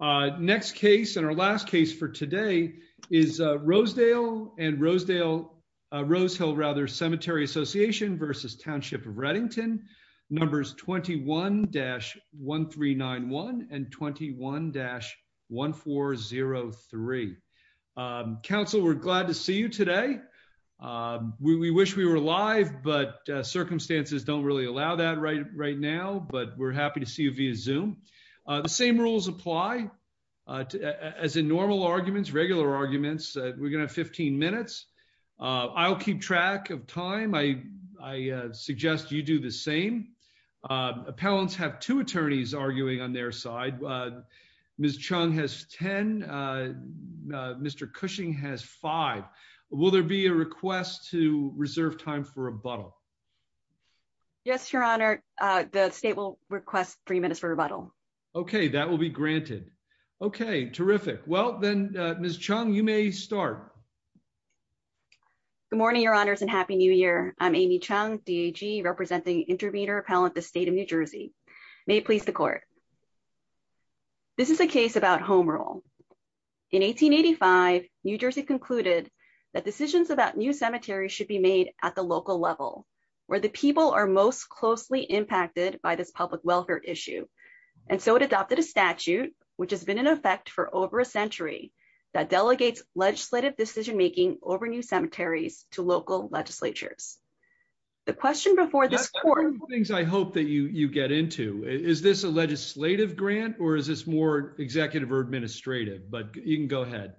Next case and our last case for today is Rosedale and Rosedale Rosehill rather Cemetery Association versus Township of Readington numbers 21-1391 and 21-1403. Council we're glad to see you today. We wish we were live but circumstances don't really allow that right right now but we're rules apply as in normal arguments regular arguments. We're going to have 15 minutes. I'll keep track of time. I suggest you do the same. Appellants have two attorneys arguing on their side. Ms. Chung has 10. Mr. Cushing has five. Will there be a request to reserve time for rebuttal? Yes your honor the state will request three minutes for rebuttal. Okay that will be granted. Okay terrific. Well then Ms. Chung you may start. Good morning your honors and happy new year. I'm Amy Chung DAG representing intervener appellant the state of New Jersey. May it please the court. This is a case about home rule. In 1885 New Jersey concluded that decisions about new cemeteries should be made at the local level where the people are most closely impacted by this public welfare issue. And so it adopted a statute which has been in effect for over a century that delegates legislative decision making over new cemeteries to local legislatures. The question before this court. Things I hope that you you get into. Is this a legislative grant or is this more executive or administrative? But you can go ahead.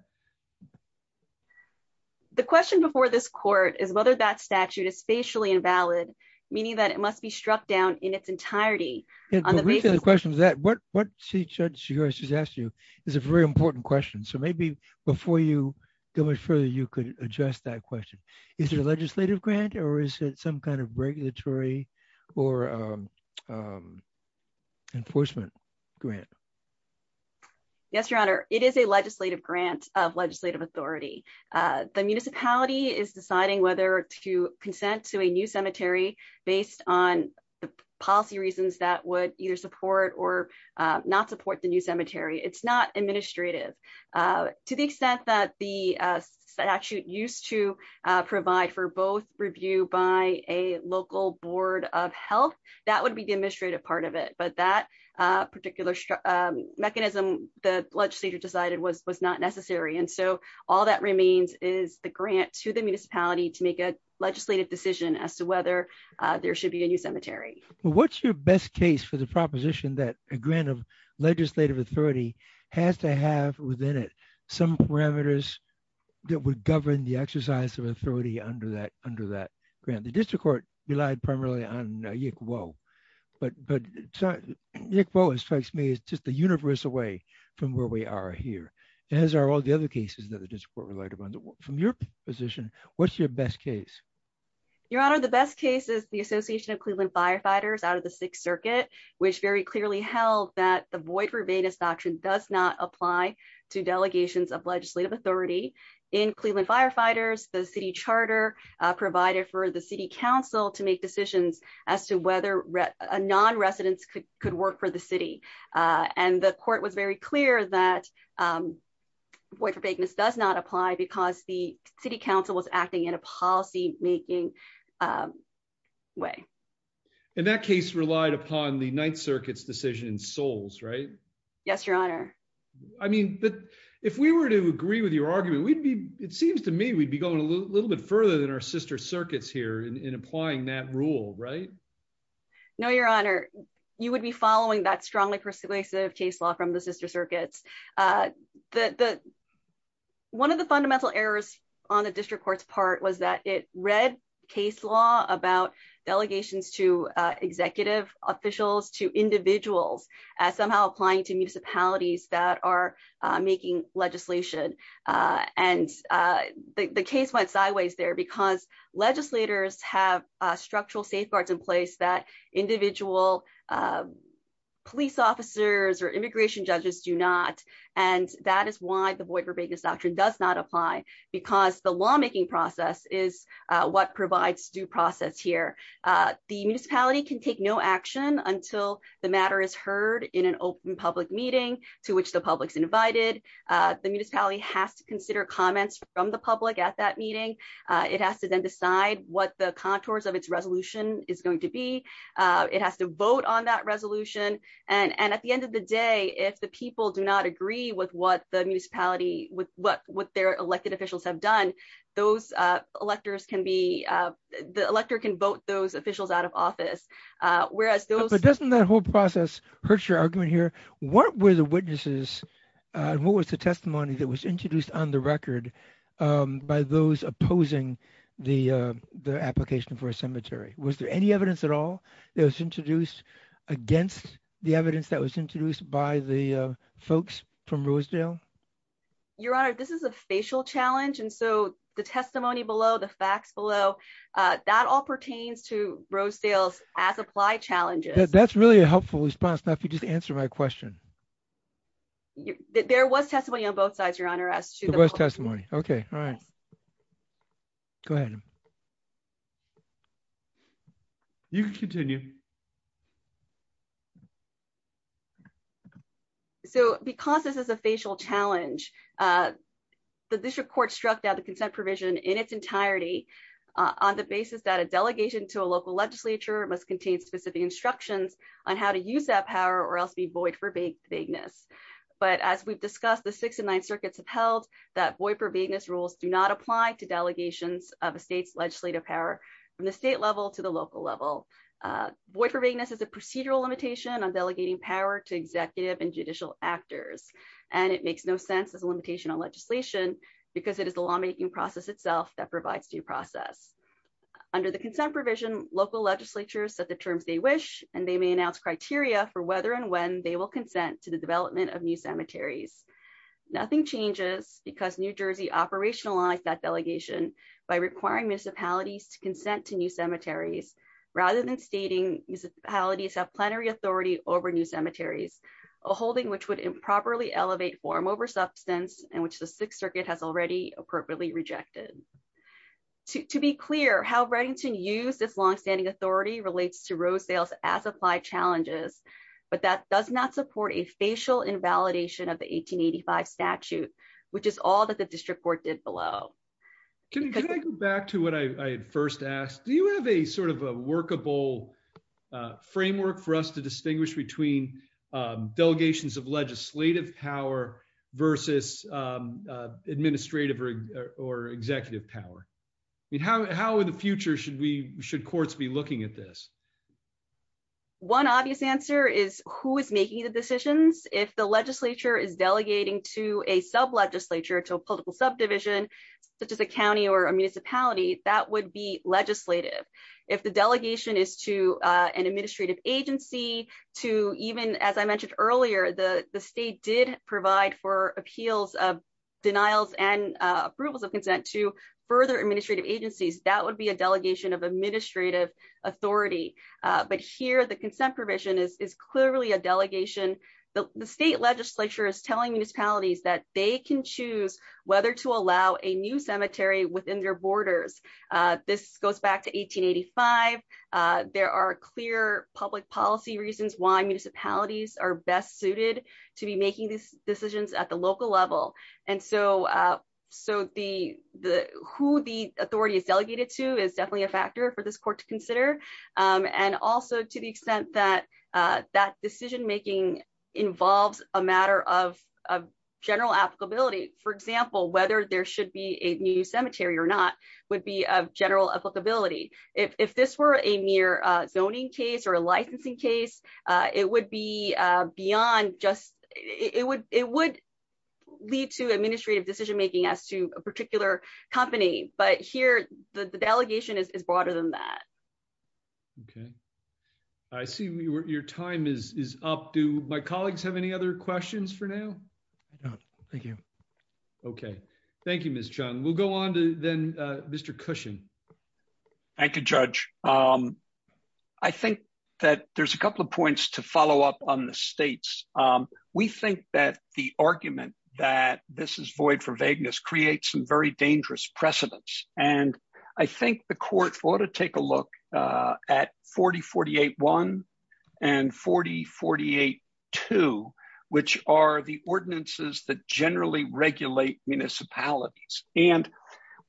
The question before this court is whether that statute is spatially invalid meaning that it must be struck down in its entirety. And the reason the question is that what what she judges asked you is a very important question. So maybe before you go much further you could address that question. Is there a legislative grant or is it some kind of regulatory or enforcement grant? Yes your honor. It is a legislative grant of legislative authority. The municipality is deciding whether to consent to a new cemetery based on the policy reasons that would either support or not support the new cemetery. It's not administrative. To the extent that the statute used to provide for both review by a local board of health that would be the administrative part of it. But that particular mechanism the legislature decided was was not necessary. And so all that remains is the grant to the municipality to make a legislative decision as to whether there should be a new cemetery. What's your best case for the proposition that a grant of legislative authority has to have within it some parameters that would govern the exercise of authority under that under that grant? The district court relied primarily on Yick Wo. But but Yick Wo strikes me as just the universal way from where we are here. As are all the other cases that the district court relied upon. From your position what's your best case? Your honor the best case is the association of Cleveland firefighters out of the sixth circuit which very clearly held that the void verbatim doctrine does not apply to delegations of legislative authority. In Cleveland firefighters the city charter provided for the city council to make decisions as to whether a non-resident could could work for the city. And the court was very clear that void for vagueness does not apply because the city council was acting in a policy making way. And that case relied upon the ninth circuit's decision in souls right? Yes your honor. I mean but if we were to agree with your argument we'd be it seems to me we'd be going a little bit further than our sister circuits here in applying that rule right? No your honor you would be following that strongly persuasive case law from the sister circuits. The the one of the fundamental errors on the district court's part was that it read case law about delegations to executive officials to individuals as somehow applying to municipalities that are making legislation. And the case went sideways there because legislators have structural safeguards in place that individual police officers or immigration judges do not. And that is why the void verbatim doctrine does not apply because the lawmaking process is what provides due process here. The municipality can take no action until the matter is heard in an open public meeting to which the public's invited. The municipality has to consider comments from the public at that meeting. It has to then decide what the contours of its resolution is going to be. It has to vote on that resolution and and at the end of the day if the people do not agree with what the municipality with what what their elected officials have done those electors can be the elector can vote those officials out of office. Whereas those but doesn't that whole process hurt your argument here? What were the witnesses? What was the testimony that was introduced on the record by those opposing the the application for a cemetery? Was there any evidence at all that was introduced against the evidence that was introduced by the folks from Rosedale? Your honor this is a facial challenge and so the testimony below the facts below that all pertains to Rosedale's as applied challenges. That's really a helpful response now if you just answer my question. There was testimony on both sides your honor as to the testimony. Okay all right go ahead. You can continue. So because this is a facial challenge uh the district court struck down the consent provision in its entirety on the basis that a delegation to a local legislature must contain specific instructions on how to use that power or else be void for vagueness. But as we've discussed the six and nine circuits have held that void for vagueness rules do not apply to delegations of a state's legislative power from the state level to the local level. Void for vagueness is a procedural limitation on delegating power to executive and judicial actors and it makes no sense as a limitation on legislation because it is the lawmaking process itself that provides due process. Under the consent provision local legislatures set the terms they wish and they may announce criteria for whether and when they will consent to the development of new cemeteries. Nothing changes because New Jersey operationalized that delegation by requiring municipalities to consent to new cemeteries rather than stating municipalities have plenary authority over new cemeteries a holding which would improperly elevate form over substance and which the sixth to be clear how Redington used its long-standing authority relates to road sales as applied challenges but that does not support a facial invalidation of the 1885 statute which is all that the district court did below. Can I go back to what I first asked do you have a sort of a workable framework for us to distinguish between delegations of legislative power versus administrative or executive power? I mean how how in the future should we should courts be looking at this? One obvious answer is who is making the decisions if the legislature is delegating to a sub-legislature to a political subdivision such as a county or a municipality that would be legislative. If the delegation is to an administrative agency to even as I mentioned earlier the the state did provide for appeals of denials and approvals of consent to further administrative agencies that would be a delegation of administrative authority but here the consent provision is is clearly a delegation. The state legislature is telling municipalities that they can choose whether to allow a new cemetery within their borders. This goes back to 1885. There are clear public policy reasons why municipalities are best suited to be making these decisions at the local level and so so the the who the authority is delegated to is definitely a factor for this court to consider and also to the extent that that decision making involves a matter of of general applicability. For example whether there should be a new cemetery or would be of general applicability. If if this were a mere zoning case or a licensing case it would be beyond just it would it would lead to administrative decision making as to a particular company but here the delegation is broader than that. Okay I see your time is is up. Do my colleagues have any other questions for now? No thank you. Okay thank you Ms. Chung. We'll go on to then Mr. Cushion. Thank you Judge. I think that there's a couple of points to follow up on the states. We think that the argument that this is void for vagueness creates some very dangerous precedents and I think the court ought to take a look at 4048-1 and 4048-2 which are the ordinances that generally regulate municipalities and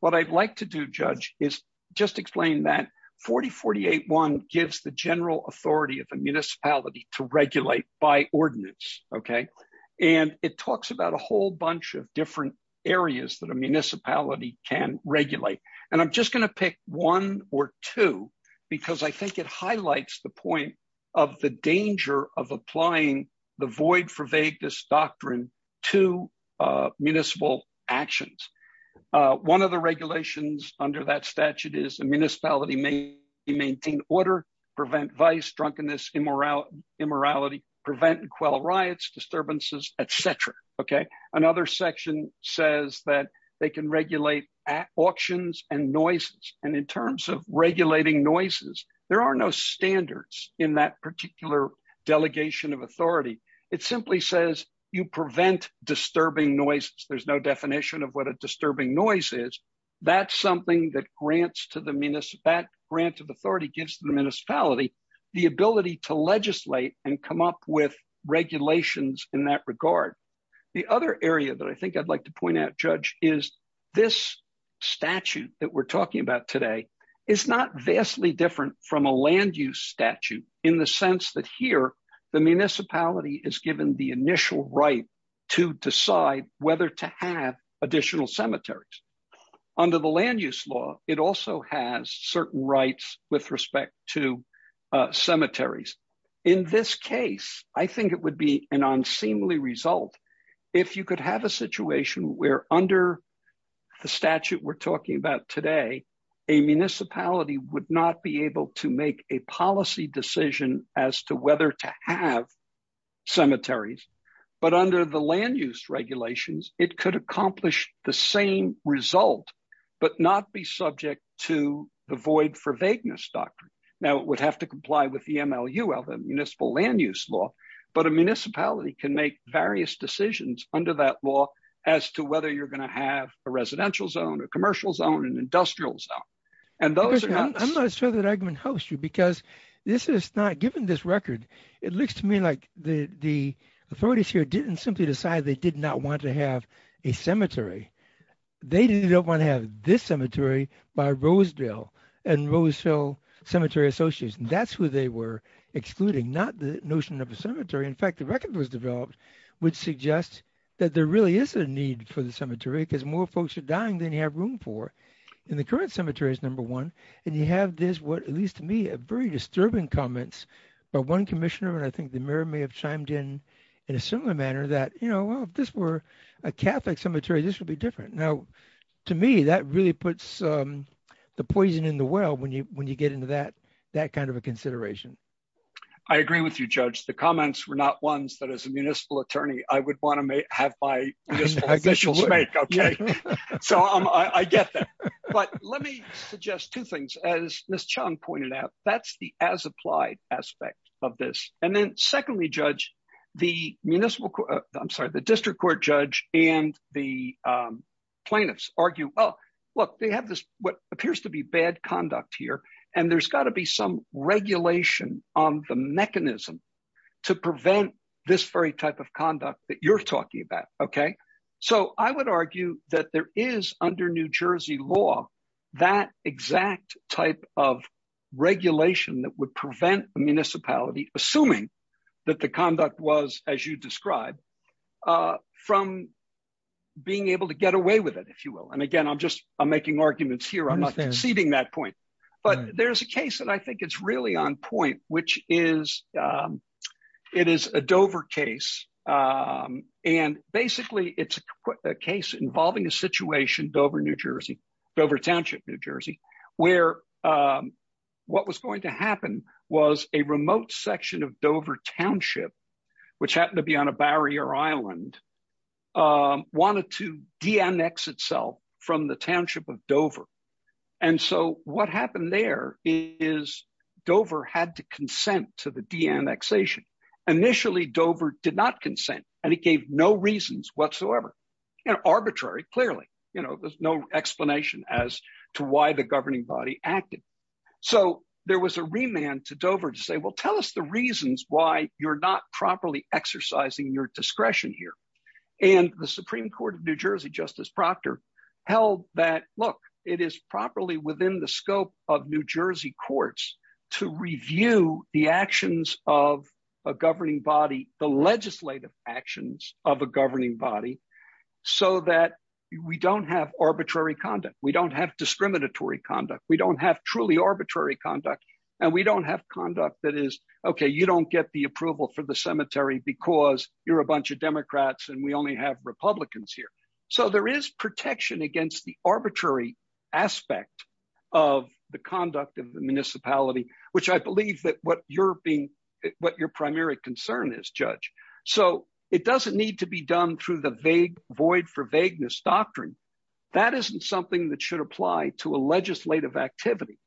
what I'd like to do Judge is just explain that 4048-1 gives the general authority of the municipality to regulate by ordinance okay and it talks about a whole bunch of different areas that a municipality can regulate and I'm just going to pick one or two because I think it highlights the point of the danger of applying the void for vagueness doctrine to municipal actions. One of the regulations under that statute is a municipality may maintain order, prevent vice, drunkenness, immorality, prevent and quell riots, disturbances, etc. Okay another section says that they can regulate auctions and noises and in terms of regulating noises there are no standards in that particular delegation of authority. It simply says you prevent disturbing noises. There's no definition of what a disturbing noise is. That's something that grants to the municipality, that grant of authority gives the municipality the ability to legislate and come up with regulations in that regard. The other area that I think I'd like to point out Judge is this statute that we're talking about today is not vastly different from a land statute in the sense that here the municipality is given the initial right to decide whether to have additional cemeteries. Under the land use law it also has certain rights with respect to cemeteries. In this case I think it would be an unseemly result if you could have a situation where under the statute we're talking about today a municipality would not be able to make a policy decision as to whether to have cemeteries but under the land use regulations it could accomplish the same result but not be subject to the void for vagueness doctrine. Now it would have to comply with the MLU of the municipal land use law but a municipality can make various decisions under that law as to whether you're going to have a residential zone, a commercial zone, an industrial zone and those are not. I'm not sure that argument helps you because this is not given this record it looks to me like the the authorities here didn't simply decide they did not want to have a cemetery. They didn't want to have this cemetery by Rosedale and Rosedale Cemetery Association. That's who they were excluding not the notion of a cemetery. In fact the record that was developed would suggest that there really is a need for the cemetery because more folks are at cemeteries number one and you have this what at least to me a very disturbing comments by one commissioner and I think the mayor may have chimed in in a similar manner that you know well if this were a catholic cemetery this would be different. Now to me that really puts the poison in the well when you when you get into that that kind of a consideration. I agree with you Judge. The comments were not ones that as a municipal attorney I would want to have my officials make so I get that but let me suggest two things as Ms. Chong pointed out that's the as applied aspect of this and then secondly Judge the municipal I'm sorry the district court Judge and the plaintiffs argue oh look they have this what appears to be bad conduct here and there's got to be some regulation on the mechanism to prevent this very type of conduct that you're arguing that there is under New Jersey law that exact type of regulation that would prevent the municipality assuming that the conduct was as you describe from being able to get away with it if you will and again I'm just I'm making arguments here I'm not conceding that point but there's a case that I think it's really on point which is it is a Dover case and basically it's a case involving a situation Dover New Jersey Dover Township New Jersey where what was going to happen was a remote section of Dover Township which happened to be on a barrier island wanted to de-annex itself from the township of Dover and so what happened there is Dover had to consent to the de-annexation. Initially Dover did not consent and it gave no reasons whatsoever you know arbitrary clearly you know there's no explanation as to why the governing body acted so there was a remand to Dover to say well tell us the reasons why you're not properly exercising your discretion here and the Supreme Court of New Jersey Justice Proctor held that look it is properly within the scope of New Jersey courts to review the actions of a governing body the legislative actions of a governing body so that we don't have arbitrary conduct we don't have discriminatory conduct we don't have truly arbitrary conduct and we don't have conduct that is okay you don't get the approval for the cemetery because you're a bunch of Democrats and we only have Republicans here so there is protection against the arbitrary aspect of the conduct of the municipality which I believe that what you're being what your primary concern is judge so it doesn't need to be done through the vague void for vagueness doctrine that isn't something that should apply to a legislative activity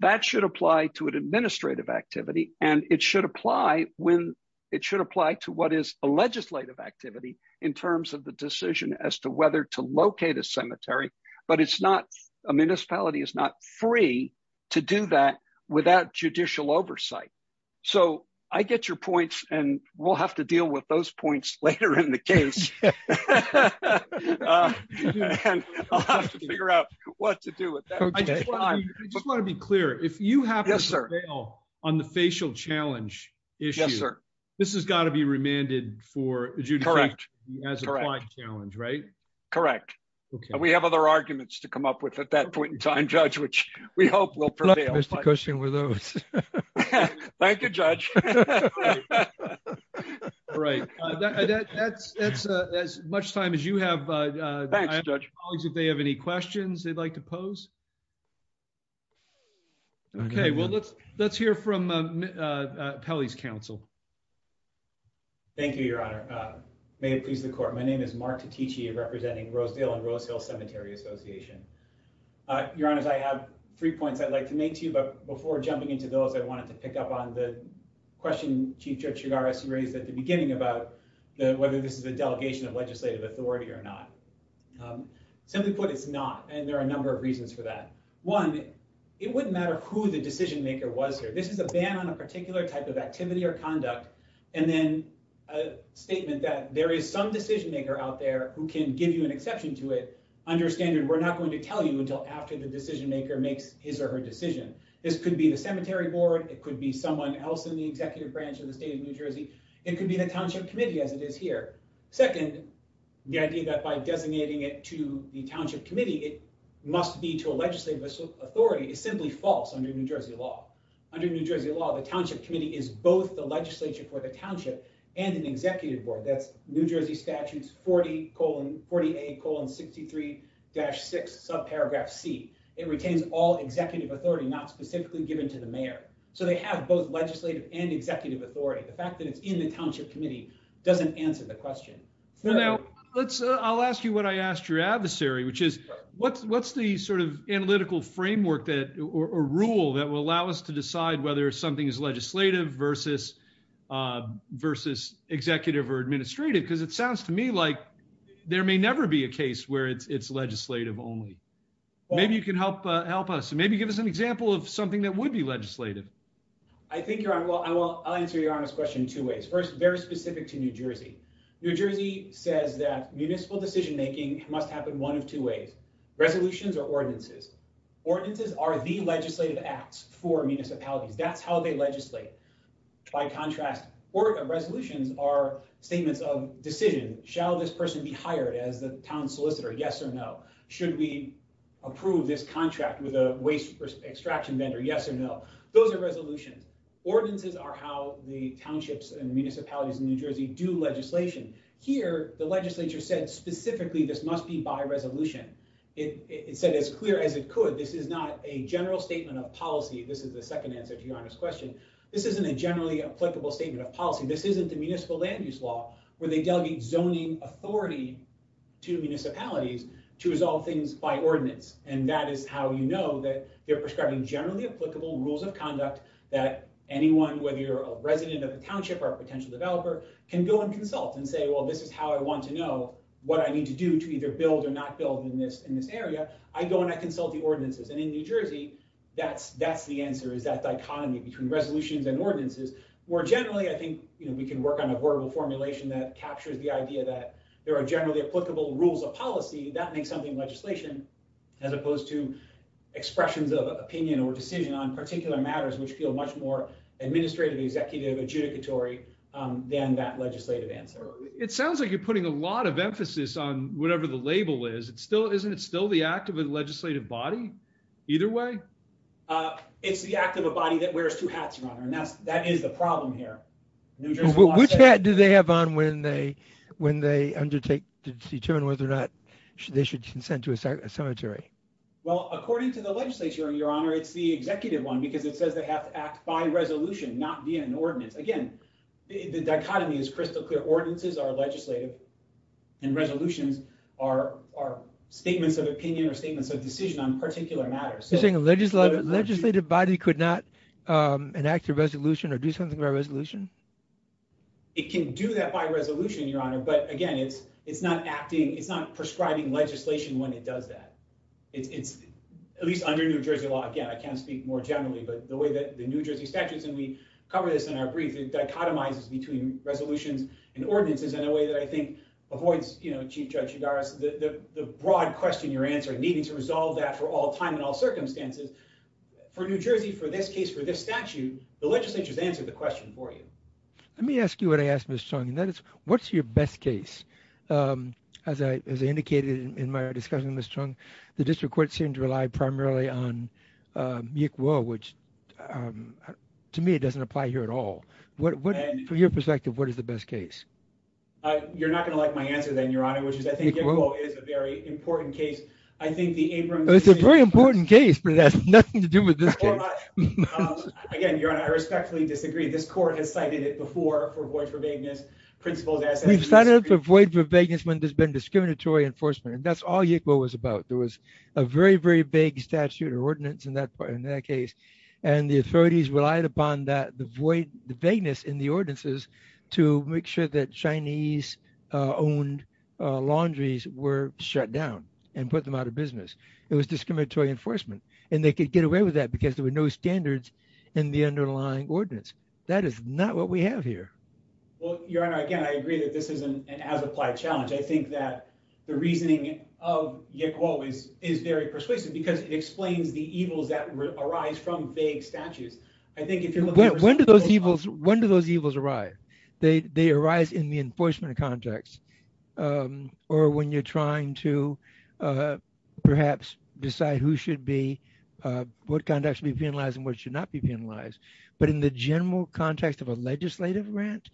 that should apply to an administrative activity and it should apply when it should apply to what is a legislative activity in terms of the decision as to whether to locate a cemetery but it's not a municipality is not free to do that without judicial oversight so I get your points and we'll have to deal with those points later in the case I'll have to figure out what to do with that I just want to be clear if you have yes sir on the facial challenge this has got to be remanded for correct challenge right correct okay we have other arguments to come up with at that point in time judge which we hope will prevail thank you judge all right that's that's as much time as you have if they have any questions they'd like to pose okay well let's let's hear from uh uh Pelly's counsel thank you your honor uh may it please the court my name is Mark Titici representing Rosedale and Rose Hill Cemetery Association uh your honors I have three points I'd like to make to you but before jumping into those I wanted to pick up on the question Chief Judge Chigares raised at the beginning about the whether this is a delegation of legislative authority or not simply put it's not and there are a number of reasons for that one it wouldn't matter who the decision maker was here this is a ban on a particular type of activity or conduct and then a statement that there is some decision maker out there who can give you an exception to it under a standard we're not going to tell you until after the decision maker makes his or her decision this could be the cemetery board it could be someone else in the executive branch of the state of New Jersey it could be the township committee as it is here second the idea that by designating it to the township committee it must be to a legislative authority is simply false under New Jersey law under New Jersey law the township committee is both the legislature for the township and an executive board that's New Jersey statutes 40 colon 48 colon 63 dash 6 subparagraph c it retains all executive authority not specifically given to the mayor so they have both legislative and executive authority the fact that it's in the so now let's i'll ask you what i asked your adversary which is what's what's the sort of analytical framework that or rule that will allow us to decide whether something is legislative versus uh versus executive or administrative because it sounds to me like there may never be a case where it's it's legislative only maybe you can help uh help us maybe give us an example of something that would be legislative i think you're on well i will i'll answer your honest question two ways first very specific to New Jersey New Jersey says that municipal decision making must happen one of two ways resolutions or ordinances ordinances are the legislative acts for municipalities that's how they legislate by contrast or resolutions are statements of decision shall this person be hired as the town solicitor yes or no should we approve this contract with a extraction vendor yes or no those are resolutions ordinances are how the townships and municipalities in New Jersey do legislation here the legislature said specifically this must be by resolution it it said as clear as it could this is not a general statement of policy this is the second answer to your honest question this isn't a generally applicable statement of policy this isn't the municipal land use law where they delegate zoning authority to municipalities to resolve things by ordinance and that is how you know that they're prescribing generally applicable rules of conduct that anyone whether you're a resident of the township or a potential developer can go and consult and say well this is how i want to know what i need to do to either build or not build in this in this area i go and i consult the ordinances and in New Jersey that's that's the answer is that dichotomy between resolutions and ordinances more generally i think you know we can work on a verbal formulation that captures the idea that there are generally applicable rules of policy that makes something legislation as opposed to expressions of opinion or decision on particular matters which feel much more administrative executive adjudicatory um than that legislative answer it sounds like you're putting a lot of emphasis on whatever the label is it's still isn't it still the act of a legislative body either way uh it's the act of a body that wears two hats runner and that's that is the problem here which hat do they have on when they when they undertake to determine whether or not they should consent to a cemetery well according to the legislature your honor it's the executive one because it says they have to act by resolution not via an ordinance again the dichotomy is crystal clear ordinances are legislative and resolutions are are statements of opinion or statements of decision on particular matters you're saying a legislative body could not um enact a resolution or do something about it can do that by resolution your honor but again it's it's not acting it's not prescribing legislation when it does that it's it's at least under new jersey law again i can't speak more generally but the way that the new jersey statutes and we cover this in our brief it dichotomizes between resolutions and ordinances in a way that i think avoids you know chief judge udara's the broad question you're answering needing to resolve that for all time and all circumstances for new jersey for this case for this statute the legislature's answer the question for you let me ask you what i asked miss chung and that is what's your best case um as i as i indicated in my discussion miss chung the district court seemed to rely primarily on uh which um to me it doesn't apply here at all what what for your perspective what is the best case uh you're not going to like my answer then your honor which is i think is a very important case i think the nothing to do with this case again your honor i respectfully disagree this court has cited it before for void for vagueness principles we've started to avoid for vagueness when there's been discriminatory enforcement and that's all it was about there was a very very vague statute or ordinance in that part in that case and the authorities relied upon that the void the vagueness in the ordinances to make sure that chinese uh owned uh laundries were shut down and put them out of business it was discriminatory enforcement and they could get away with that because there were no standards in the underlying ordinance that is not what we have here well your honor again i agree that this is an as applied challenge i think that the reasoning of yet quo is is very persuasive because it explains the evils that arise from vague statutes i think if you look when do those evils when do those evils arrive they they arise in the perhaps decide who should be uh what conduct should be penalized and what should not be penalized but in the general context of a legislative grant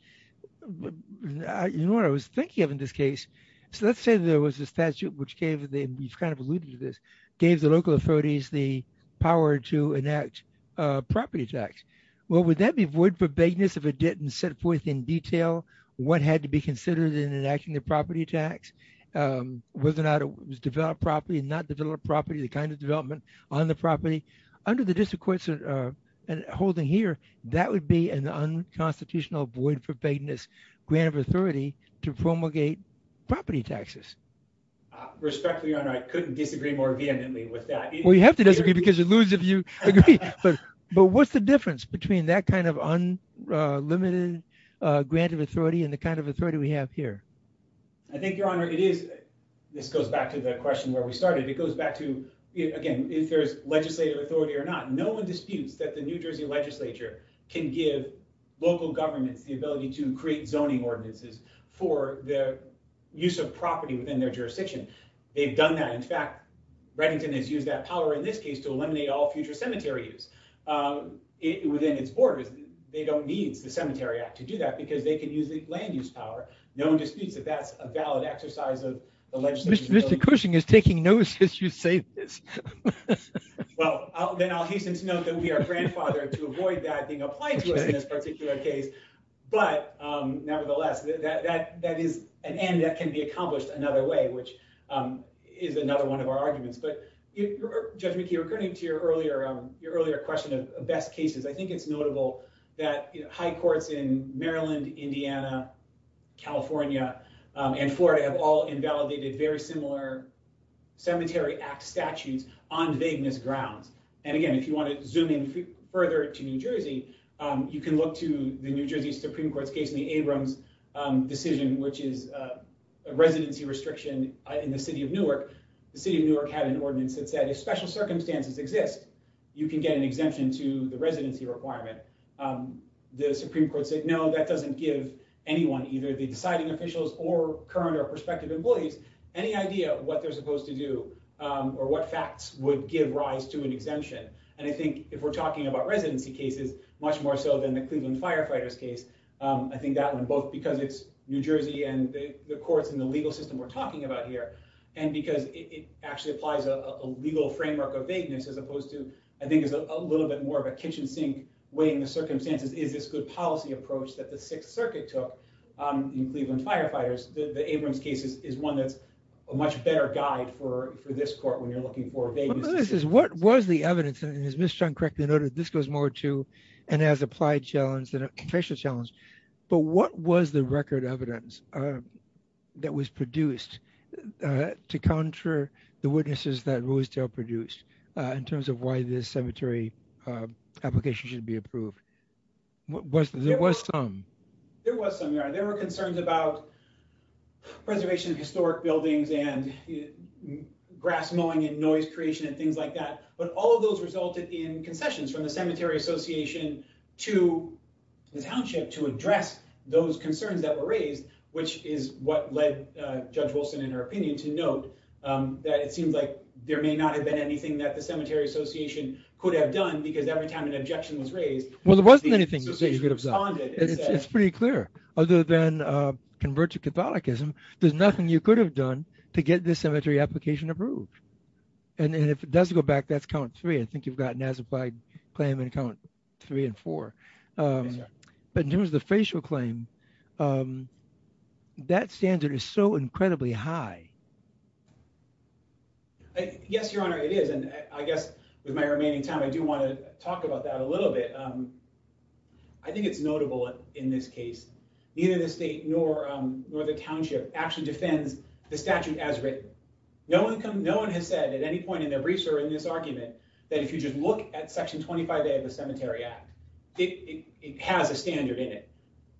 you know what i was thinking of in this case so let's say there was a statute which gave the you've kind of alluded to this gave the local authorities the power to enact uh property tax well would that be void for vagueness if it didn't set forth in detail what had to be considered in enacting the property tax um whether or not it was developed properly and not develop property the kind of development on the property under the district courts uh and holding here that would be an unconstitutional void for vagueness grant of authority to promulgate property taxes respectfully your honor i couldn't disagree more vehemently with that well you have to disagree because you lose if you agree but but what's the difference between that kind of unlimited uh grant of here i think your honor it is this goes back to the question where we started it goes back to again if there's legislative authority or not no one disputes that the new jersey legislature can give local governments the ability to create zoning ordinances for the use of property within their jurisdiction they've done that in fact reddington has used that power in this case to eliminate all future cemetery use um within its borders they don't need the cemetery act to do that because they can use the land use power no one disputes that that's a valid exercise of the legislature mr cushing is taking notice as you say this well then i'll hasten to note that we are grandfathered to avoid that being applied to us in this particular case but um nevertheless that that that is an end that can be accomplished another way which um is another one of our arguments but judge mckee according to your earlier um your earlier question of best cases i think it's notable that high courts in maryland indiana california and florida have all invalidated very similar cemetery act statutes on vagueness grounds and again if you want to zoom in further to new jersey um you can look to the new jersey supreme court's case in the abrams decision which is a residency restriction in the city of newark the city of newark had an ordinance that said if circumstances exist you can get an exemption to the residency requirement um the supreme court said no that doesn't give anyone either the deciding officials or current or prospective employees any idea what they're supposed to do um or what facts would give rise to an exemption and i think if we're talking about residency cases much more so than the cleveland firefighters case um i think that one both because it's new jersey and the courts in the legal system we're talking about here and because it actually applies a legal framework of vagueness as opposed to i think it's a little bit more of a kitchen sink way in the circumstances is this good policy approach that the sixth circuit took um in cleveland firefighters the abrams case is one that's a much better guide for for this court when you're looking for vagueness this is what was the evidence and as miss chunk correctly noted this goes more to and as applied challenge than a facial challenge but what was the record evidence uh that was produced uh to counter the witnesses that roosedale produced uh in terms of why this cemetery uh application should be approved what was there was some there was some there were concerns about preservation of historic buildings and grass mowing and noise creation and things like that but all of those resulted in concessions from the cemetery association to the township to address those concerns that were raised which is what led uh judge wilson in her opinion to note um that it seems like there may not have been anything that the cemetery association could have done because every time an objection was raised well there wasn't anything you could have done it's pretty clear other than uh convert to catholicism there's nothing you could have done to get this cemetery application approved and then if it doesn't go back that's count three i think you've gotten as applied claim and count three and four um but in terms of the facial claim um that standard is so incredibly high yes your honor it is and i guess with my remaining time i do want to talk about that a little bit um i think it's notable in this case neither the state nor um nor the township actually defends the statute as written no one no one has said at any point in their briefs or in this argument that if you just look at section 25 day of the cemetery act it it has a standard in it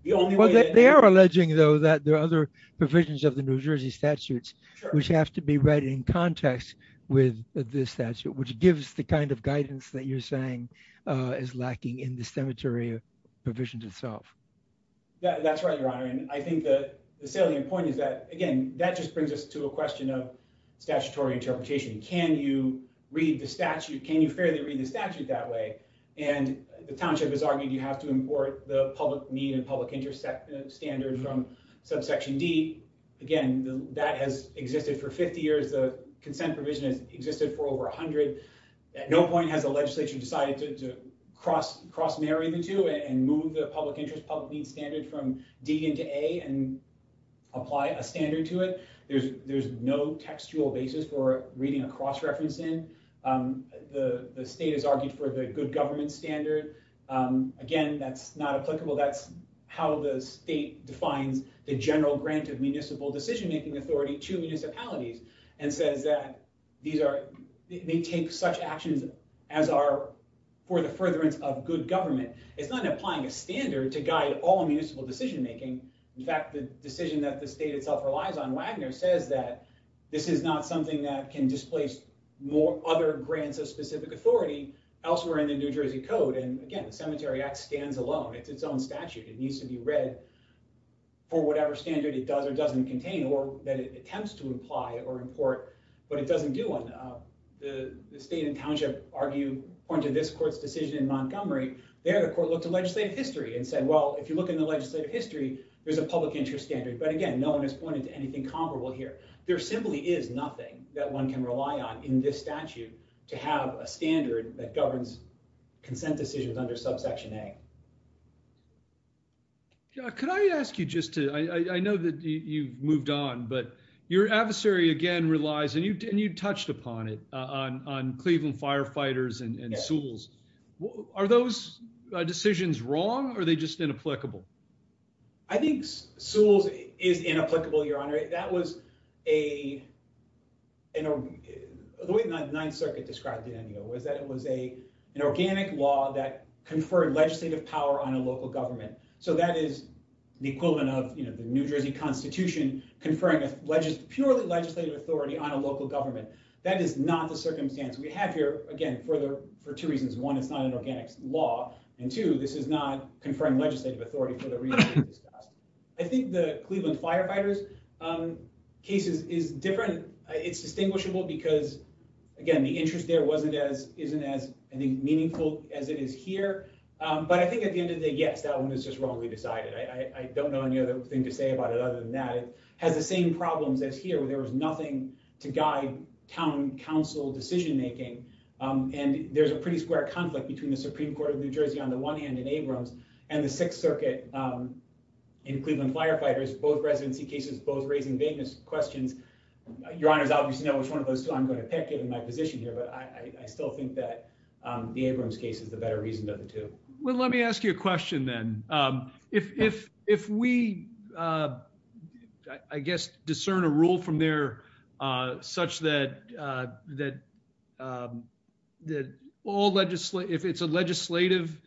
the only way they are alleging though that there are other provisions of the new jersey statutes which have to be read in context with this statute which gives the kind of guidance that you're saying uh is lacking in the cemetery provisions itself that's right your honor and i think the salient point is that again that just brings us to a question of statutory interpretation can you read the statute can you fairly read the statute that way and the township has argued you have to import the public need and public interest standards from subsection d again that has existed for 50 years the consent provision has existed for over 100 at no point has the legislature decided to cross cross marry the two and move the public interest public need standard from d into a and apply a standard to it there's there's no textual basis for reading a cross reference in the the state has argued for the good government standard again that's not applicable that's how the state defines the general grant of municipal decision-making authority to municipalities and says that these are they take such actions as are for the furtherance of good government it's not applying a standard to guide all municipal decision-making in fact the decision that the state itself relies on wagner says that this is not something that can displace more other grants of specific authority elsewhere in the new jersey code and again the cemetery act stands alone it's its own statute it needs to be read for whatever standard it does or doesn't contain or that it attempts to apply or import but it doesn't do one uh the the state and township argue according to this court's decision in montgomery there the court looked at legislative history and said well if you look in the legislative history there's a public interest standard but again no one has pointed to anything comparable here there simply is nothing that one can rely on in this statute to have a standard that governs consent decisions under subsection a could i ask you just to i i know that you moved on but your adversary again relies and you and you touched upon it uh on on cleveland firefighters and and souls are those decisions wrong or are they just inapplicable i think souls is inapplicable your honor that was a you know the way the ninth circuit described it was that it was a an organic law that conferred legislative power on a local government so that is the equivalent of the new jersey constitution conferring a purely legislative authority on a local government that is not the circumstance we have here again for the for two reasons one it's not an organic law and two this is not conferring legislative authority for the reason i think the cleveland firefighters um cases is different it's distinguishable because again the interest there wasn't as isn't as i think meaningful as it is here um but i think at the end of the day yes that one is just wrongly decided i i don't know any other thing to say about it other than that it has the same problems as here where there was nothing to guide town council decision making um and there's a pretty square conflict between the supreme court of new jersey on the one hand in abrams and the sixth circuit um in cleveland firefighters both residency cases both raising vagueness questions your honors obviously know which one of those two i'm going to pick in my position here but i i still think that um the abrams case is the better reason to the two well let me ask you a question then um if if if we uh i guess discern a rule from there uh such that uh that um that all legislative if it's a legislative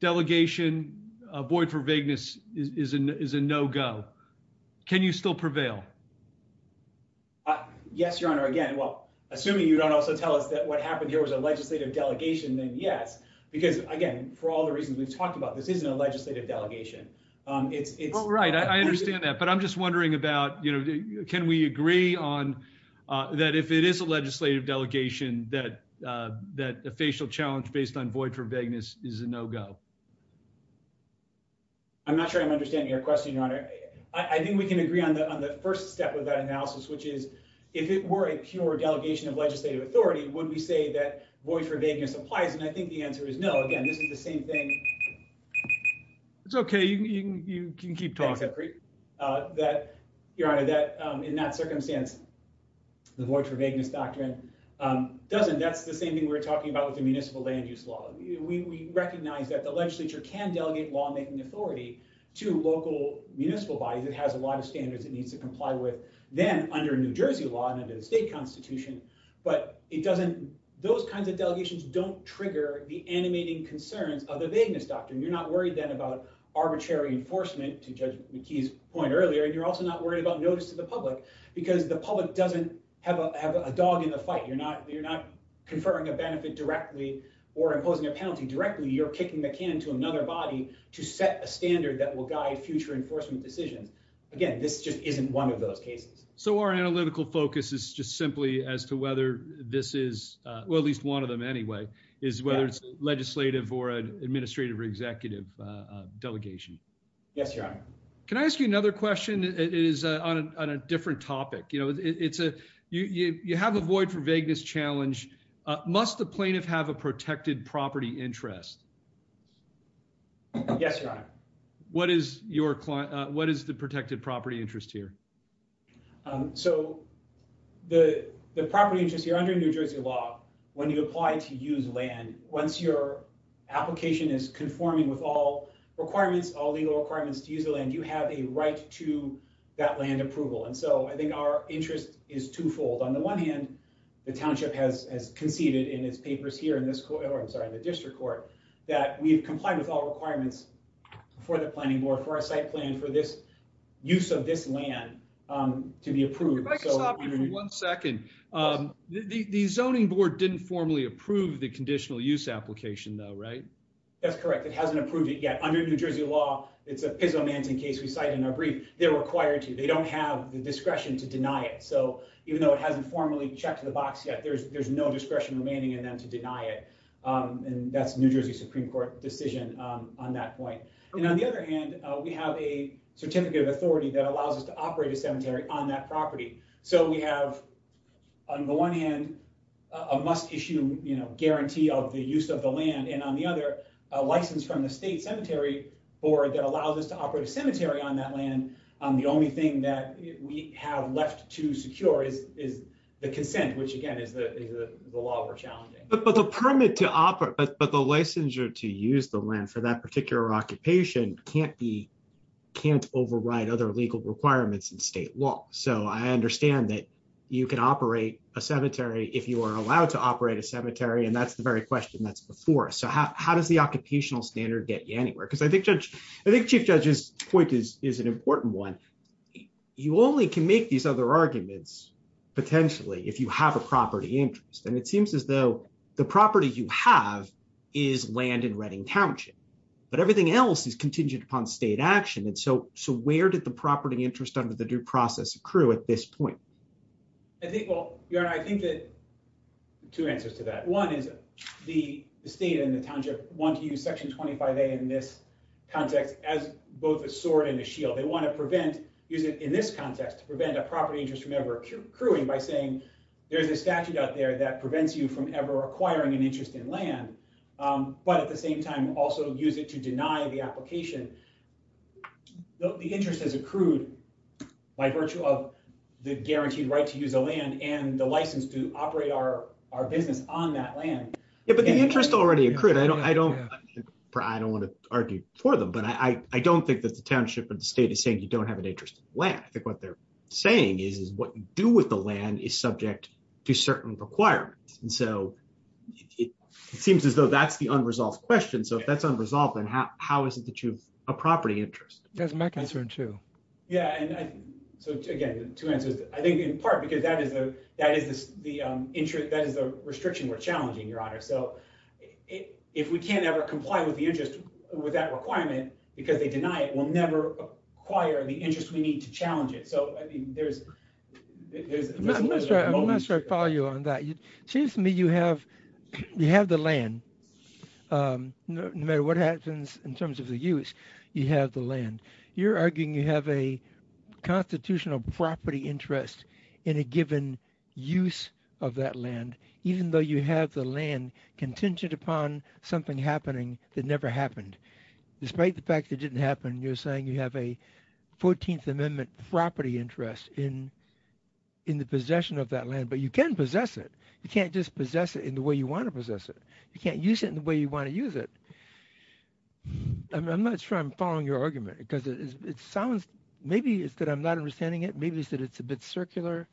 delegation avoid for vagueness is a no-go can you still prevail uh yes your honor again well assuming you don't also tell us that what for all the reasons we've talked about this isn't a legislative delegation um it's it's right i understand that but i'm just wondering about you know can we agree on uh that if it is a legislative delegation that uh that the facial challenge based on void for vagueness is a no-go i'm not sure i'm understanding your question your honor i think we can agree on the on the first step of that analysis which is if it were a pure delegation of legislative authority would we say that void for vagueness applies and i think the answer is no again this is the same thing it's okay you can keep talking uh that your honor that um in that circumstance the void for vagueness doctrine um doesn't that's the same thing we're talking about with the municipal land use law we recognize that the legislature can delegate lawmaking authority to local municipal bodies it has a lot of standards it needs to comply with then under new jersey law and under the state constitution but it doesn't those kinds of delegations don't trigger the animating concerns of the vagueness doctrine you're not worried then about arbitrary enforcement to judge mckee's point earlier and you're also not worried about notice to the public because the public doesn't have a have a dog in the fight you're not you're not conferring a benefit directly or imposing a penalty directly you're kicking the can to another body to set a standard that will guide future enforcement decisions again this just isn't one of those cases so our analytical focus is just simply as to whether this is uh well at least one of them anyway is whether it's legislative or administrative or executive delegation yes your honor can i ask you another question it is uh on a different topic you know it's a you you have a void for vagueness challenge uh must the plaintiff have a protected property interest yes your honor what is your client what is the protected property interest here um so the the property interest here under new jersey law when you apply to use land once your application is conforming with all requirements all legal requirements to use the land you have a right to that land approval and so i think our interest is twofold on the one hand the township has conceded in its papers here in this court i'm sorry the district court that we've complied with all requirements before the planning board for a site plan for this use of this land um to be approved one second um the the zoning board didn't formally approve the conditional use application though right that's correct it hasn't approved it yet under new jersey law it's a pizomantine case we cite in our brief they're required to they don't have the discretion to deny it so even though it hasn't formally checked the box yet there's there's no discretion remaining in them to deny it um and that's new jersey supreme court decision um on that point and on the other hand we have a certificate of authority that allows us to operate a cemetery on that property so we have on the one hand a must issue you know guarantee of the use of the land and on the other a license from the state cemetery board that allows us to operate a cemetery on that um the only thing that we have left to secure is is the consent which again is the the law we're challenging but the permit to operate but the licensure to use the land for that particular occupation can't be can't override other legal requirements in state law so i understand that you can operate a cemetery if you are allowed to operate a cemetery and that's the very question that's before so how does the occupational standard get you anywhere because i think judge i think chief judge's point is is an important one you only can make these other arguments potentially if you have a property interest and it seems as though the property you have is land in redding township but everything else is contingent upon state action and so so where did the property interest under the due process accrue at this point i think well you know i think that two answers to that one is the state and the township want to use section 25a in this context as both a sword and a shield they want to prevent use it in this context to prevent a property interest from ever accruing by saying there's a statute out there that prevents you from ever acquiring an interest in land but at the same time also use it to deny the application the interest has accrued by virtue of the guaranteed right to use the land and the license to operate our our business on that land yeah but the interest already accrued i don't i don't i don't want to argue for them but i i don't think that the township or the state is saying you don't have an interest in land i think what they're saying is is what you do with the land is subject to certain requirements and so it seems as though that's the unresolved question so if that's unresolved then how how is it that you've a property interest that's my concern too yeah and i so again two answers i think in part because that is a that is the um interest that can't ever comply with the interest with that requirement because they deny it will never acquire the interest we need to challenge it so i think there's there's a moment i'll follow you on that it seems to me you have you have the land um no matter what happens in terms of the use you have the land you're arguing you have a constitutional property interest in a given use of that land even though you have the land contingent upon something happening that never happened despite the fact that didn't happen you're saying you have a 14th amendment property interest in in the possession of that land but you can possess it you can't just possess it in the way you want to possess it you can't use it in the way you want to use it i'm not sure i'm following your argument because it sounds maybe it's that i'm not understanding it maybe it's that well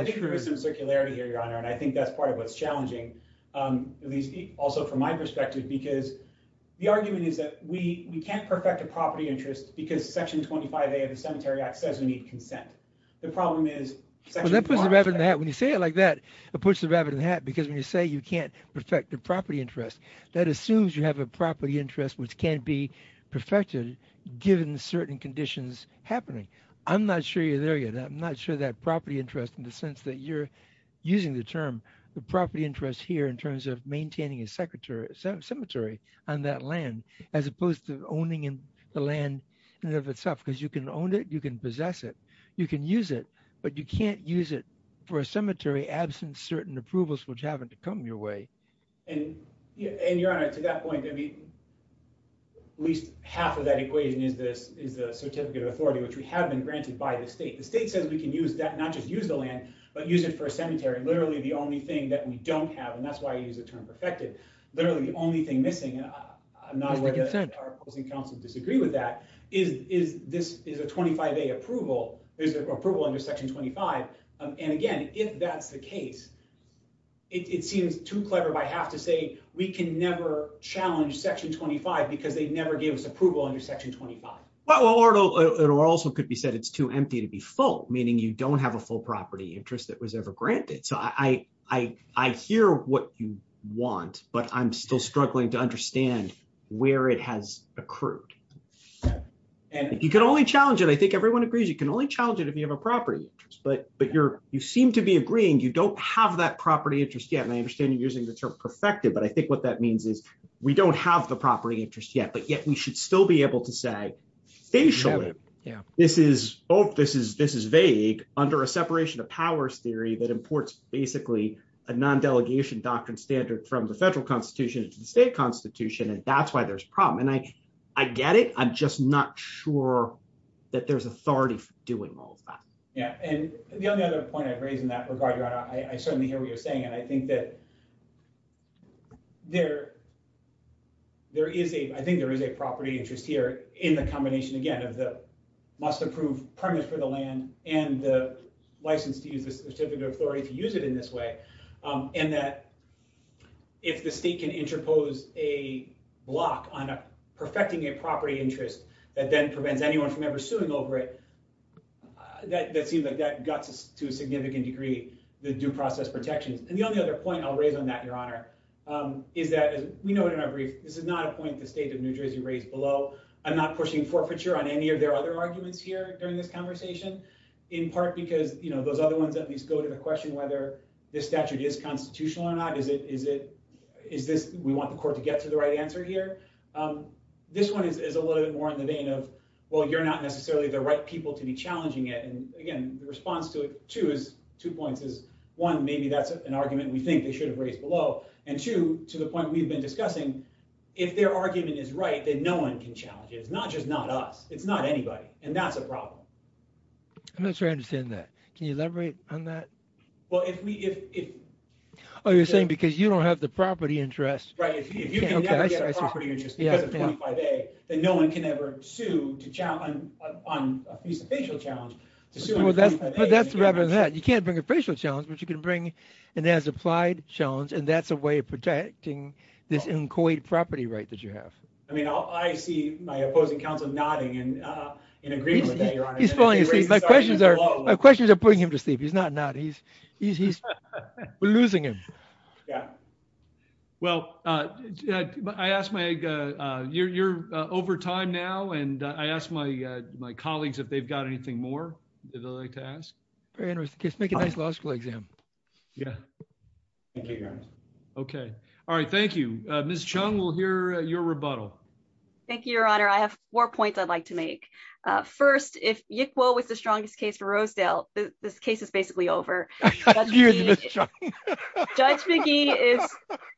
i think there's some circularity here your honor and i think that's part of what's challenging um at least also from my perspective because the argument is that we we can't perfect a property interest because section 25a of the cemetery act says we need consent the problem is that when you say it like that it puts the rabbit in the hat because when you say you can't perfect the property interest that assumes you have a property interest which can't be perfected given certain conditions happening i'm not sure you're there yet i'm not sure that property interest in the sense that you're using the term the property interest here in terms of maintaining a secretary cemetery on that land as opposed to owning in the land and of itself because you can own it you can possess it you can use it but you can't use it for a cemetery absent certain approvals which happen to come your way and yeah and your honor to that point maybe at least half of that equation is this is the authority which we have been granted by the state the state says we can use that not just use the land but use it for a cemetery literally the only thing that we don't have and that's why i use the term perfected literally the only thing missing i'm not whether our opposing counsel disagree with that is is this is a 25a approval there's an approval under section 25 and again if that's the case it seems too clever by half to say we can never challenge section 25 because they never give us approval under section 25 well or it also could be said it's too empty to be full meaning you don't have a full property interest that was ever granted so i i i hear what you want but i'm still struggling to understand where it has accrued and you can only challenge it i think everyone agrees you can only challenge it if you have a property interest but but you're you seem to be agreeing you don't have that property interest yet and i understand you're using the term perfected but i think what that means is we don't have the property interest yet but yet we should still be able to say facially yeah this is oh this is this is vague under a separation of powers theory that imports basically a non-delegation doctrine standard from the federal constitution into the state constitution and that's why there's problem and i i get it i'm just not sure that there's authority for doing all of that yeah and the only other point i've raised in that regard i certainly hear what you're saying and i think that there there is a i think there is a property interest here in the combination again of the must approve permit for the land and the license to use the certificate of authority to use it in this way um and that if the state can interpose a block on perfecting a property interest that then prevents anyone from ever suing over it that that seems like that guts to a significant degree the due process protections and the only other point i'll raise on that your honor um is that as we know it in our brief this is not a point the state of new jersey raised below i'm not pushing forfeiture on any of their other arguments here during this conversation in part because you know those other ones at least go to the question whether this statute is constitutional or not is it is it is this we want the court to get to the right answer here um this one is a little bit more in the vein of well you're not necessarily the right people to be challenging it and again the response to it two is two points is one maybe that's an argument we think they should have raised below and two to the point we've been discussing if their argument is right then no one can challenge it it's not just not us it's not anybody and that's a problem i'm not sure i understand that can you elaborate on that well if we if oh you're saying because you don't have the property interest right if you can never get a property interest because of 25a then no one can ever sue to challenge on a piece of facial challenge well that's but that's rather than that you can't bring a facial challenge but you can bring and as applied challenge and that's a way of protecting this inchoate property right that you have i mean i see my opposing counsel nodding and uh in agreement with that your honor he's calling you see my questions are my questions are putting him to sleep he's not not he's he's he's we're losing him yeah well uh i asked my uh uh you're you're uh over time now and i asked my uh my colleagues if they've got anything more they'd like to ask very interesting make a nice law school exam yeah thank you guys okay all right thank you uh miss chung we'll hear your rebuttal thank you your honor i have four points i'd like to make uh first if yikwo was the strongest case for rosedale this case is basically over judge mcgee is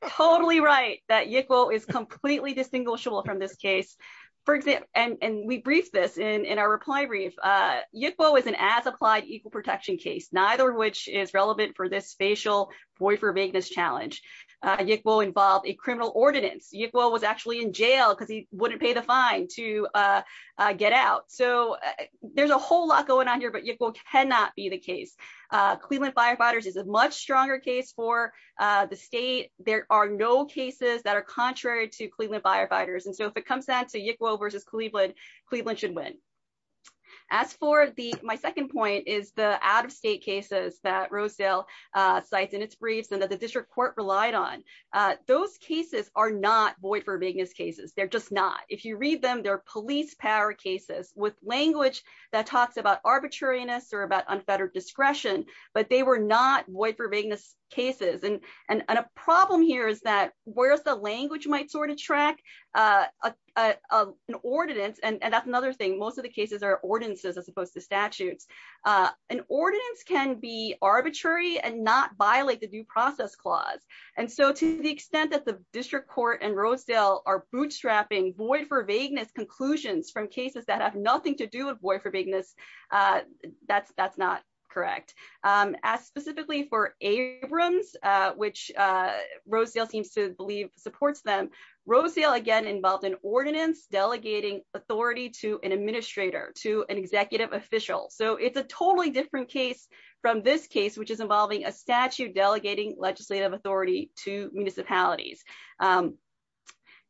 totally right that yikwo is completely distinguishable from this case for example and and we briefed this in in our reply brief uh yikwo is an as applied equal protection case neither which is relevant for this facial boy for making this challenge uh yikwo involved a criminal ordinance yikwo was actually in jail because he wouldn't pay the fine to uh uh get out so there's a whole lot going on here but yikwo cannot be the case uh cleveland firefighters is a much stronger case for uh the state there are no cases that are contrary to cleveland firefighters and so if it comes down to yikwo versus cleveland cleveland should win as for the my second point is the out-of-state cases that rosedale uh cites in its briefs and that the district court relied on uh those cases are not void-for-bigness cases they're just not if you read them they're police power cases with language that talks about arbitrariness or about unfettered discretion but they were not void-for-bigness cases and and a problem here is that whereas the language might sort of track uh uh an ordinance and that's another thing most of the cases are ordinances as opposed to statutes uh an ordinance can be arbitrary and not violate the due process clause and so to the extent that the district court and rosedale are bootstrapping void for vagueness conclusions from cases that have nothing to do with void-for-bigness uh that's that's not correct um as specifically for abrams uh which uh rosedale seems to believe supports them rosedale again involved in ordinance delegating authority to an administrator to an executive official so it's a totally different case from this case which is involving a statute delegating legislative authority to municipalities um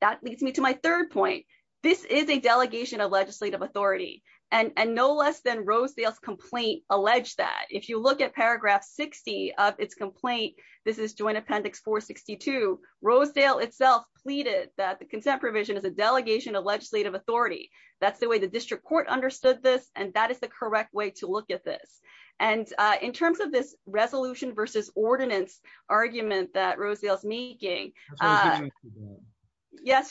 that leads me to my third point this is a delegation of legislative authority and and no less than rosedale's complaint allege that if you look at paragraph 60 of its complaint this is joint appendix 462 rosedale itself pleaded that the consent provision is a delegation of legislative authority that's the way the district court understood this and that is the correct way to look at this and uh in terms of this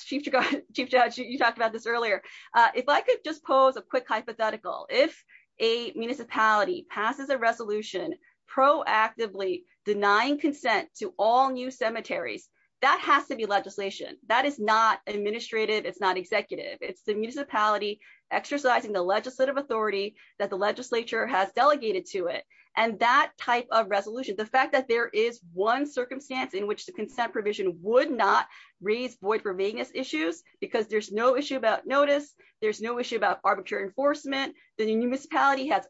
chief judge you talked about this earlier uh if i could just pose a quick hypothetical if a municipality passes a resolution proactively denying consent to all new cemeteries that has to be legislation that is not administrative it's not executive it's the municipality exercising the legislative authority that the legislature has delegated to it and that type of resolution the fact that there is one circumstance in which the consent provision would not raise void for vagueness issues because there's no issue about notice there's no issue about arbitrary enforcement the municipality has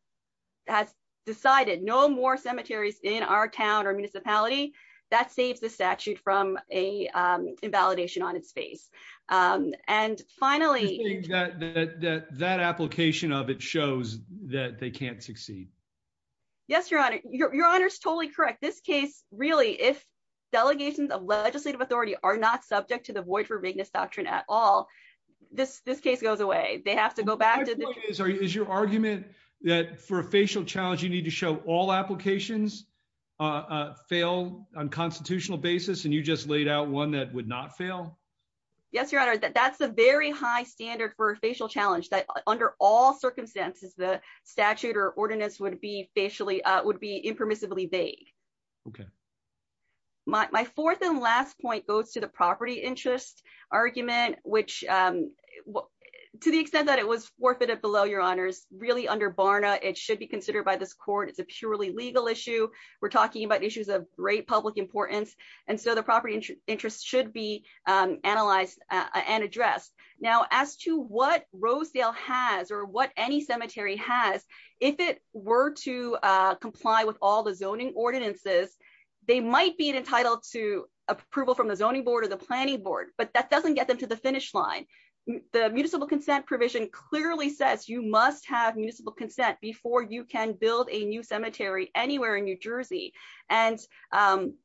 has decided no more cemeteries in our town or municipality that saves the statute from a um invalidation on its face um and finally that that that application of it shows that they can't succeed yes your honor your honor is totally correct this case really if delegations of legislative authority are not subject to the void for vagueness doctrine at all this this case goes away they have to go back to the is your argument that for a facial challenge you need to show all applications uh fail on constitutional basis and you just laid out one that would not fail yes your honor that's a very high standard for a facial challenge that under all circumstances the statute or ordinance would be facially uh would be impermissibly vague okay my fourth and last point goes to the property interest argument which um to the extent that it was forfeited below your honors really under barna it should be considered by this court it's a purely legal issue we're talking about issues of great public importance and so the property interest should be um analyzed and addressed now as to what rosedale has or what any cemetery has if it were to uh comply with all the zoning ordinances they might be entitled to approval from the zoning board or the planning board but that doesn't get them to the finish line the municipal consent provision clearly says you must have municipal consent before you can build a new cemetery anywhere in new jersey and um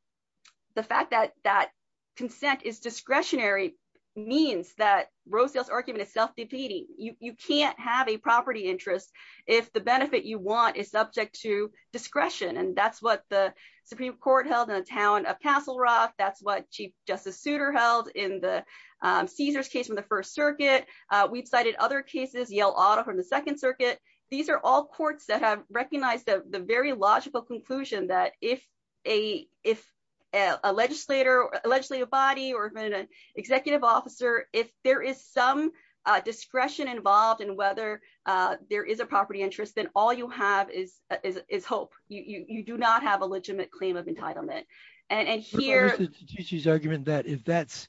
the fact that that consent is discretionary means that roseale's argument is self-defeating you you can't have a property interest if the benefit you want is subject to discretion and that's what the supreme court held in the town of castle rock that's what chief justice suitor held in the um caesar's case from the first circuit uh we've cited other cases yell auto from the second circuit these are all courts that have recognized the very logical conclusion that if a if a legislator a legislative body or an executive officer if there is some uh discretion involved in whether uh there is a property interest then all you have is is is hope you you do not have a legitimate claim of entitlement and here she's argument that if that's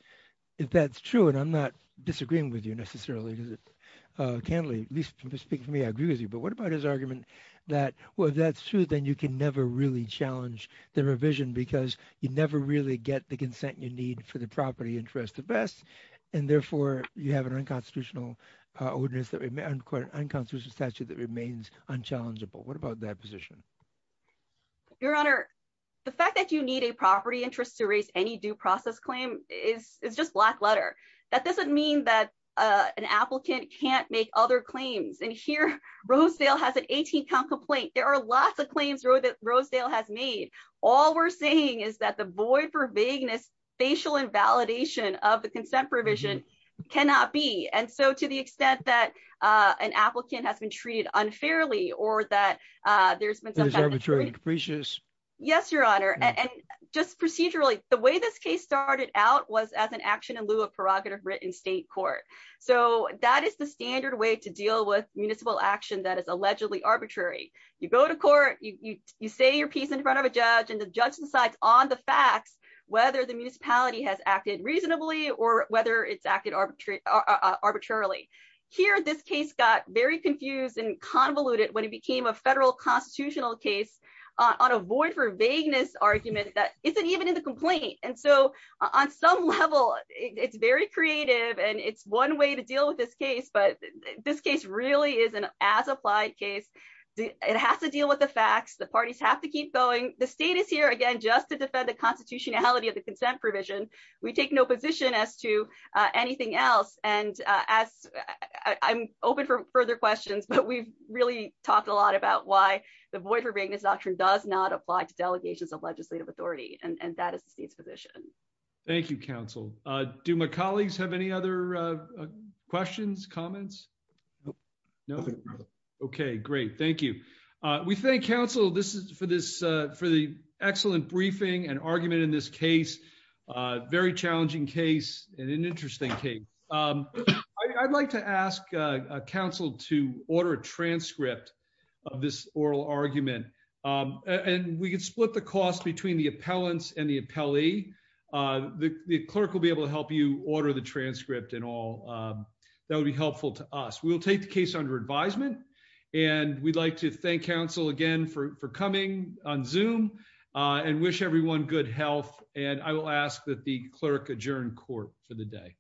if that's true and i'm not disagreeing with you necessarily because it uh can't at least speak for me i agree with you but what about his argument that well that's true then you can never really challenge the revision because you never really get the consent you need for the property interest the best and therefore you have an unconstitutional ordinance that remain unconstitutional statute that remains unchallengeable what about that position your honor the fact that you need a property interest to raise any due process claim is it's just black letter that doesn't mean that uh an applicant can't make other claims and here rosedale has an 18 count complaint there are lots of claims rosedale has made all we're saying is that the void for vagueness facial invalidation of the consent provision cannot be and so to the extent that uh an applicant has been treated unfairly or that uh there's been arbitrary capricious yes your honor and just procedurally the way this case started out was as an action in lieu of prerogative written state court so that is the standard way to you say your piece in front of a judge and the judge decides on the facts whether the municipality has acted reasonably or whether it's acted arbitrary arbitrarily here this case got very confused and convoluted when it became a federal constitutional case on a void for vagueness argument that isn't even in the complaint and so on some level it's very creative and it's one way to deal with this case but this case really is an as applied case it has to deal with the facts the parties have to keep going the state is here again just to defend the constitutionality of the consent provision we take no position as to uh anything else and uh as i'm open for further questions but we've really talked a lot about why the void for vagueness doctrine does not apply to delegations of legislative authority and that is the state's position thank you counsel uh do my colleagues have any other uh questions comments no okay great thank you uh we thank council this is for this uh for the excellent briefing and argument in this case uh very challenging case and an interesting case um i'd like to ask uh council to order a transcript of this oral argument um and we could split the cost between the appellants and the appellee uh the the clerk will be able to help you order the transcript and all um that would be helpful to us we'll take the case under advisement and we'd like to thank council again for for coming on zoom uh and wish everyone good health and i will ask that the clerk adjourn court for the day